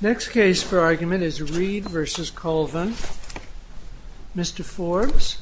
Next case for argument is Reed v. Colvin, Mr. Forbes.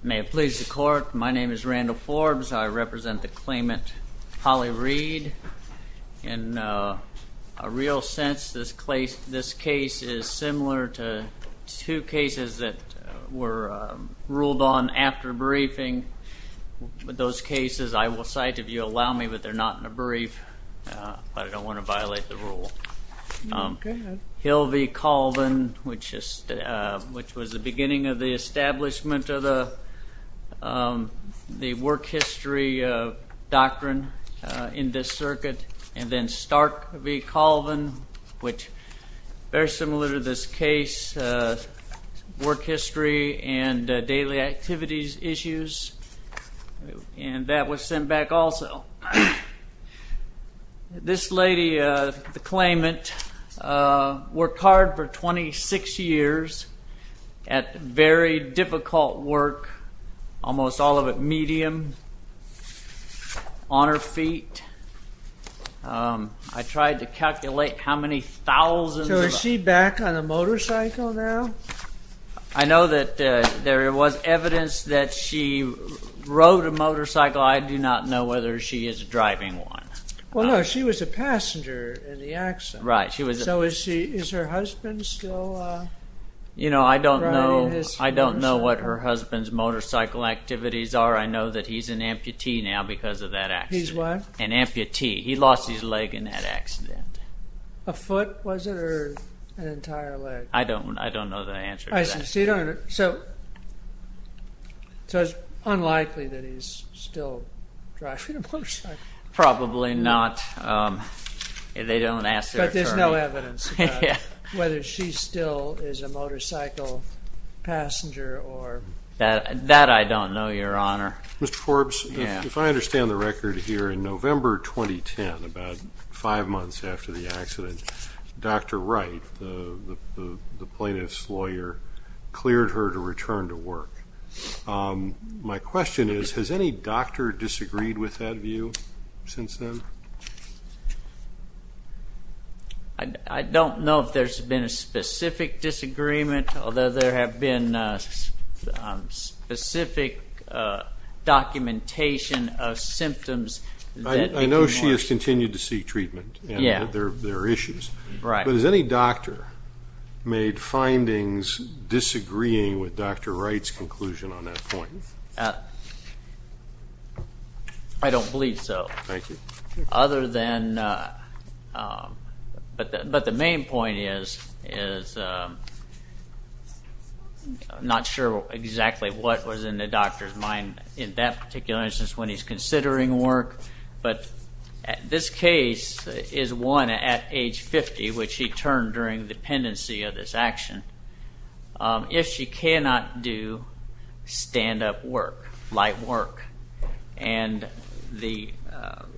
May it please the court, my name is Randall Forbes, I represent the claimant Polly Reed v. Colvin. In a real sense this case is similar to two cases that were ruled on after briefing. Those cases I will cite if you allow me, but they're not in a brief, but I don't want to violate the rule. Hill v. Colvin, which was the beginning of the establishment of the work history doctrine in this circuit, and then Stark v. Colvin, which is very similar to this case, work history and daily activities issues, and that was sent back also. This very difficult work, almost all of it medium, on her feet. I tried to calculate how many thousands... So is she back on a motorcycle now? I know that there was evidence that she rode a motorcycle, I do not know whether she is driving one. Well no, she was a passenger in the accident. So is her husband still riding his motorcycle? I don't know what her husband's motorcycle activities are, I know that he's an amputee now because of that accident. He's what? An amputee, he lost his leg in that accident. A foot was it, or an entire leg? I don't know the answer to that. So it's unlikely that he's still driving a motorcycle? Probably not. But there's no evidence whether she still is a motorcycle passenger or... That I don't know, Your Honor. Mr. Forbes, if I understand the record here, in November 2010, about five months after the accident, Dr. Wright, the plaintiff's lawyer, cleared her to return to work. My question is, has any doctor disagreed with that view since then? I don't know if there's been a specific disagreement, although there have been specific documentation of symptoms... I know she has continued to seek treatment, there are issues. But has any doctor made findings disagreeing with Dr. Wright's conclusion on that point? I don't believe so. Thank you. But the main point is, I'm not sure exactly what was in the is one at age 50, which she turned during the pendency of this action, if she cannot do stand-up work, light work. And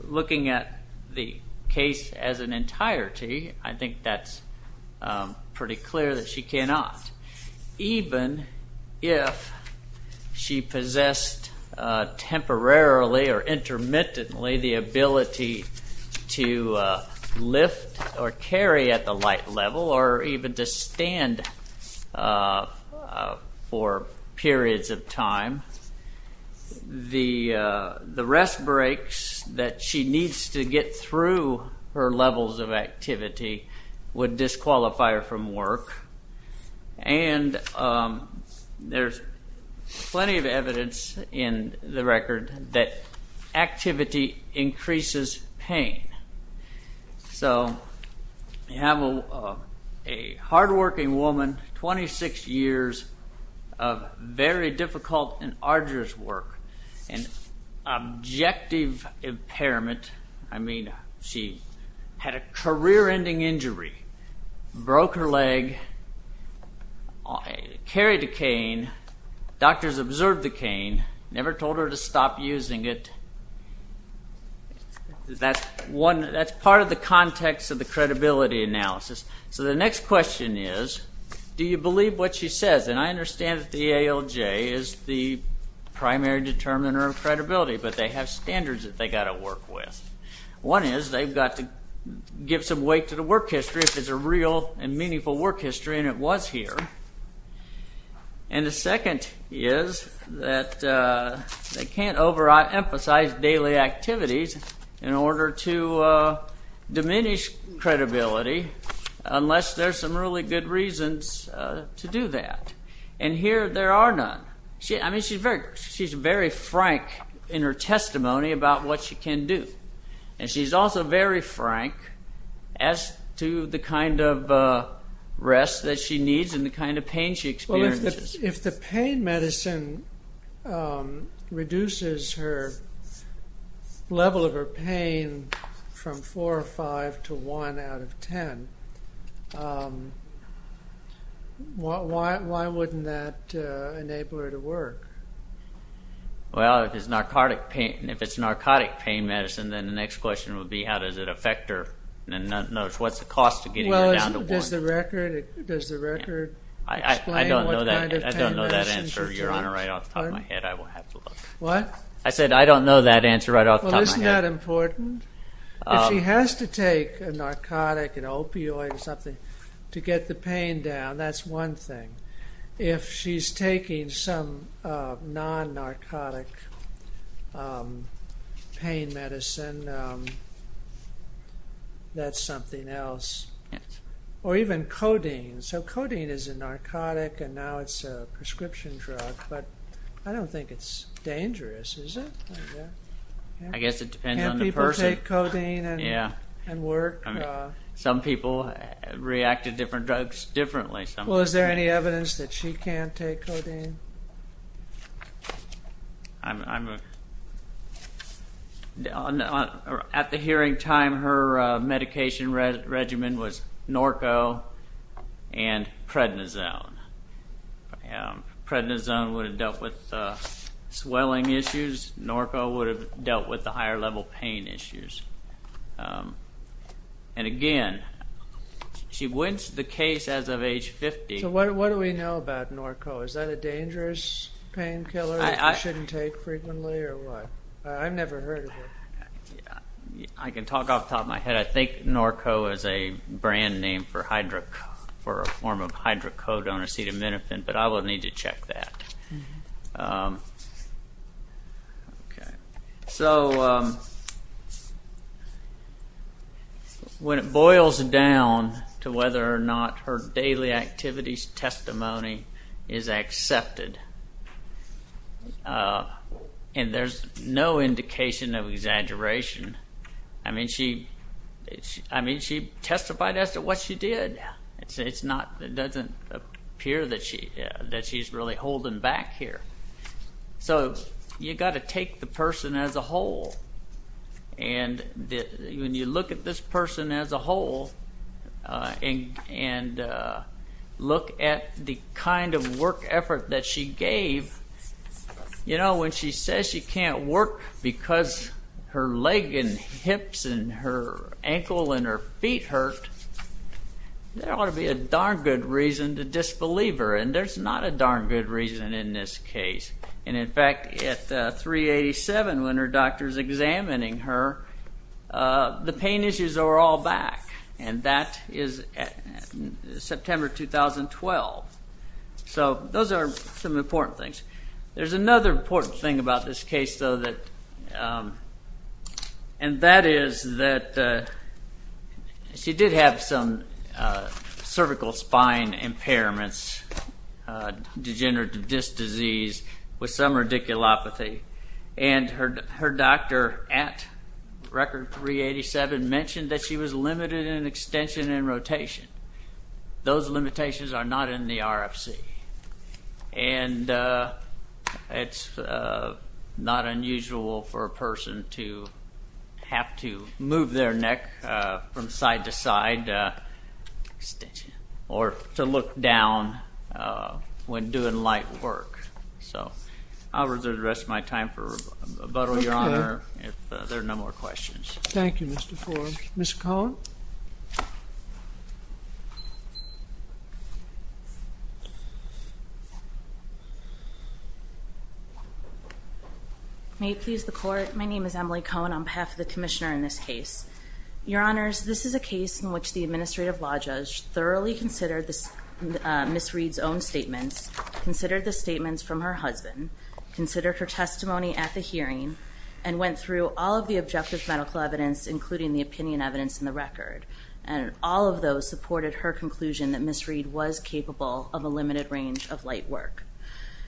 looking at the case as an entirety, I think that's pretty clear that she or carry at the light level, or even to stand for periods of time. The rest breaks that she needs to get through her levels of activity would disqualify her from work. And there's plenty of evidence in the record that activity increases pain. So you have a hard-working woman, 26 years of very difficult and arduous work, and objective impairment. I mean, she had a career-ending injury, broke her leg, carried a cane, doctors observed the cane, never told her to stop using it. That's part of the context of the credibility analysis. So the next question is, do you believe what she says? And I understand that the ALJ is the primary determiner of credibility, but they have standards that they got to work with. One is, they've got to give some weight to the work history, if it's a real and meaningful work history, and it was here. And the second is that they can't over-emphasize daily activities in order to diminish credibility, unless there's some really good reasons to do that. And here, there are none. I mean, she's very frank in her testimony about what she can do. And she's also very frank as to the kind of rest that she needs and the kind of pain she experiences. If the pain medicine reduces her level of her pain from 4 or 5 to 1 out of 10, why wouldn't that enable her to work? Well, if it's narcotic pain medicine, then the next question would be, how does it affect her? And what's the cost of getting her down to 1? Does the record explain what kind of pain medicine for trauma is? I don't know that answer. You're right off the top of my head. I said, I don't know that answer right off the top of my head. Well, isn't that important? If she has to take a narcotic, an opioid or something to get the pain down, that's one thing. If she's taking some non-narcotic pain medicine, that's something else. Or even codeine. So codeine is a narcotic and now it's a prescription drug. But I don't think it's dangerous, is it? I guess it depends on the person. Can't people take codeine and work? Some people react to different drugs differently. Is there any evidence that she can take codeine? At the hearing time, her medication regimen was narco and prednisone. Prednisone would have dealt with swelling issues. Narco would have dealt with the higher level pain issues. And again, she went to the case as of age 50. So what do we know about narco? Is that a dangerous painkiller that you shouldn't take frequently or what? I've never heard of it. I can talk off the top of my head. I think narco is a brand name for a form of hydrocodone or acetaminophen. But I will need to check that. So when it boils down to whether or not her daily activities testimony is accepted, and there's no indication of exaggeration, I mean she testified as to what she did. It doesn't appear that she's really holding back here. So you've got to take the person as a whole. And when you look at this person as a whole, and look at the kind of work effort that she gave, you know when she says she can't work because her leg and hips and her ankle and her feet hurt, there ought to be a darn good reason to disbelieve her. And there's not a darn good reason in this case. And in fact, at 387, when her doctor's examining her, the pain issues are all back. And that is September 2012. So those are some important things. There's another important thing about this case, though, and that is that she did have some cervical spine impairments, degenerative disc disease with some radiculopathy. And her doctor at record 387 mentioned that she was limited in extension and rotation. Those limitations are not in the RFC. And it's not unusual for a person to have to move their neck from side to side, or to look down when doing light work. So I'll reserve the rest of my time for rebuttal, Your Honor, if there are no more questions. Thank you, Mr. Forbes. Ms. Cohn? May it please the Court. My name is Emily Cohn on behalf of the Commissioner in this case. Your Honors, this is a case in which the Administrative Law Judge thoroughly considered Ms. Reed's own statements, considered the statements from her husband, considered her testimony at the hearing, and went through all of the objective medical evidence, including the opinion evidence in the record. And all of those supported her conclusion that Ms. Reed was capable of a limited range of light work.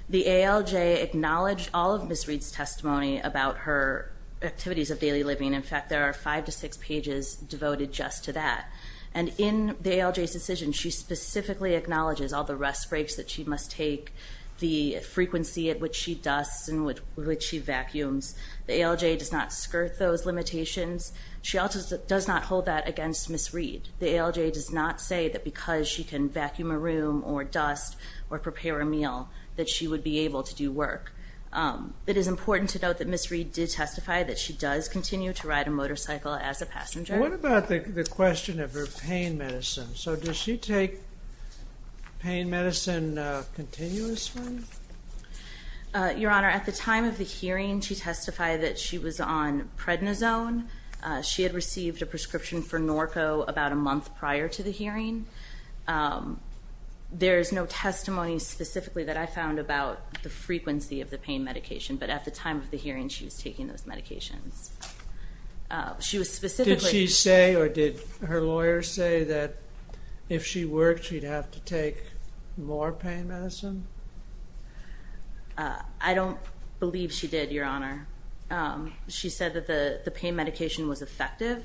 The ALJ acknowledged all of Ms. Reed's testimony about her activities of daily living. In fact, there are five to six pages devoted just to that. And in the ALJ's decision, she specifically acknowledges all the rest breaks that she must take, the frequency at which she dusts and which she vacuums. The ALJ does not skirt those limitations. She also does not hold that against Ms. Reed. The ALJ does not say that because she can vacuum a room or dust or prepare a meal, that she would be able to do work. It is important to note that Ms. Reed did testify that she does continue to ride a motorcycle as a passenger. What about the question of her pain medicine? So does she take pain medicine continuously? Your Honor, at the time of the hearing, she testified that she was on prednisone. She had received a prescription for Norco about a month prior to the hearing. There is no testimony specifically that I found about the frequency of the pain medication, but at the time of the hearing, she was taking those medications. Did she say or did her lawyer say that if she worked, she'd have to take more pain medicine? I don't believe she did, Your Honor. She said that the pain medication was effective,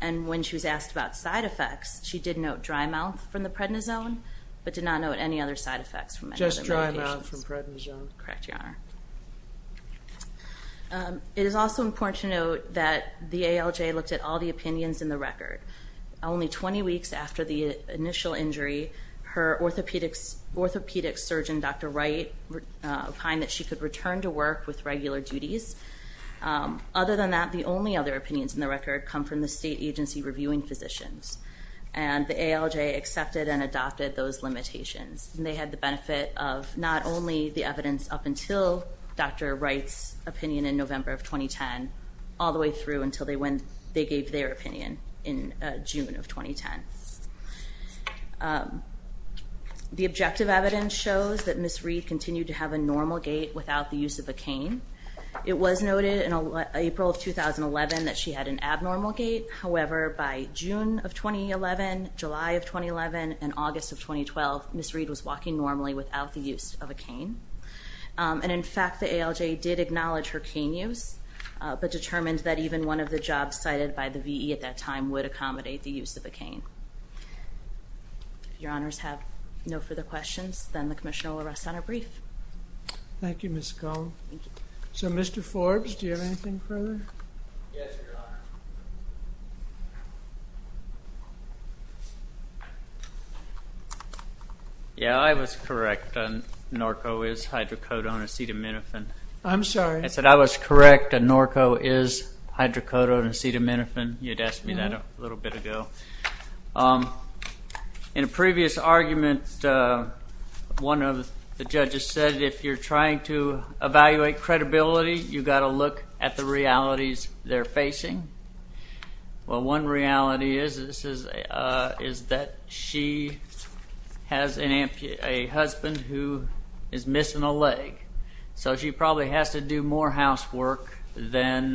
and when she was asked about side effects, she did note dry mouth from the prednisone, but did not note any other side effects. Just dry mouth from prednisone? Correct, Your Honor. It is also important to note that the ALJ looked at all the opinions in the record. Only 20 weeks after the initial injury, her orthopedic surgeon, Dr. Wright, opined that she could return to work with regular duties. Other than that, the only other opinions in the record come from the state agency reviewing physicians, and the ALJ accepted and adopted those limitations. They had the benefit of not only the evidence up until Dr. Wright's opinion in November of 2010, all the way through until they gave their opinion in June of 2010. The objective evidence shows that Ms. Reed continued to have a normal gait without the use of a cane. It was noted in April of 2011 that she had an abnormal gait, however, by June of 2011, July of 2011, and August of 2012, Ms. Reed was walking normally without the use of a cane. And in fact, the ALJ did acknowledge her cane use, but determined that even one of the jobs cited by the VE at that time would accommodate the use of a cane. If Your Honors have no further questions, then the Commission will rest on a brief. Thank you, Ms. Scull. So, Mr. Forbes, do you have anything further? Yes, Your Honor. Yeah, I was correct. Norco is hydrocodone acetaminophen. I'm sorry. I said I was correct. Norco is hydrocodone acetaminophen. You had asked me that a little bit ago. In a previous argument, one of the judges said if you're trying to evaluate credibility, you've got to look at the realities they're facing. Well, one reality is that she has a husband who is missing a leg, so she probably has to do more housework than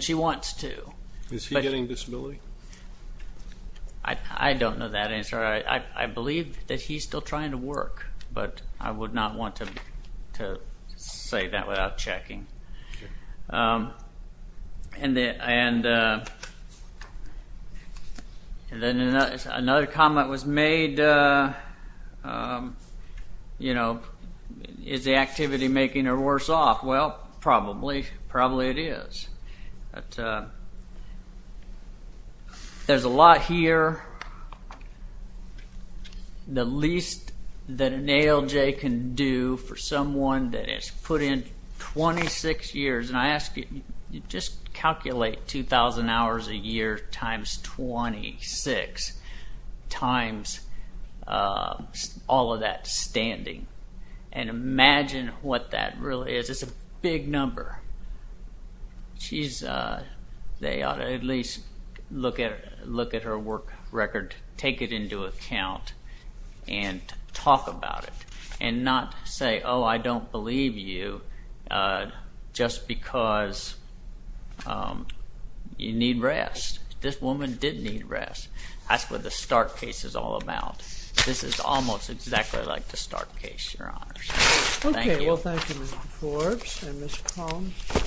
she wants to. Is he getting disability? I don't know that answer. I believe that he's still trying to work, but I would not want to say that without checking. Another comment was made, you know, is the activity making her worse off? Well, probably. Probably it is. But there's a lot here. The least that an ALJ can do for someone that has put in 26 years, and I ask you, just calculate 2,000 hours a year times 26 times all of that standing, and imagine what that really is. It's a big number. They ought to at least look at her work record, take it into account, and talk about it, and not say, oh, I don't believe you just because you need rest. This woman did need rest. That's what the Stark case is all about. This is almost exactly like the Stark case, Your Honors. Thank you. Well, thank you, Mr. Forbes and Ms. Combs.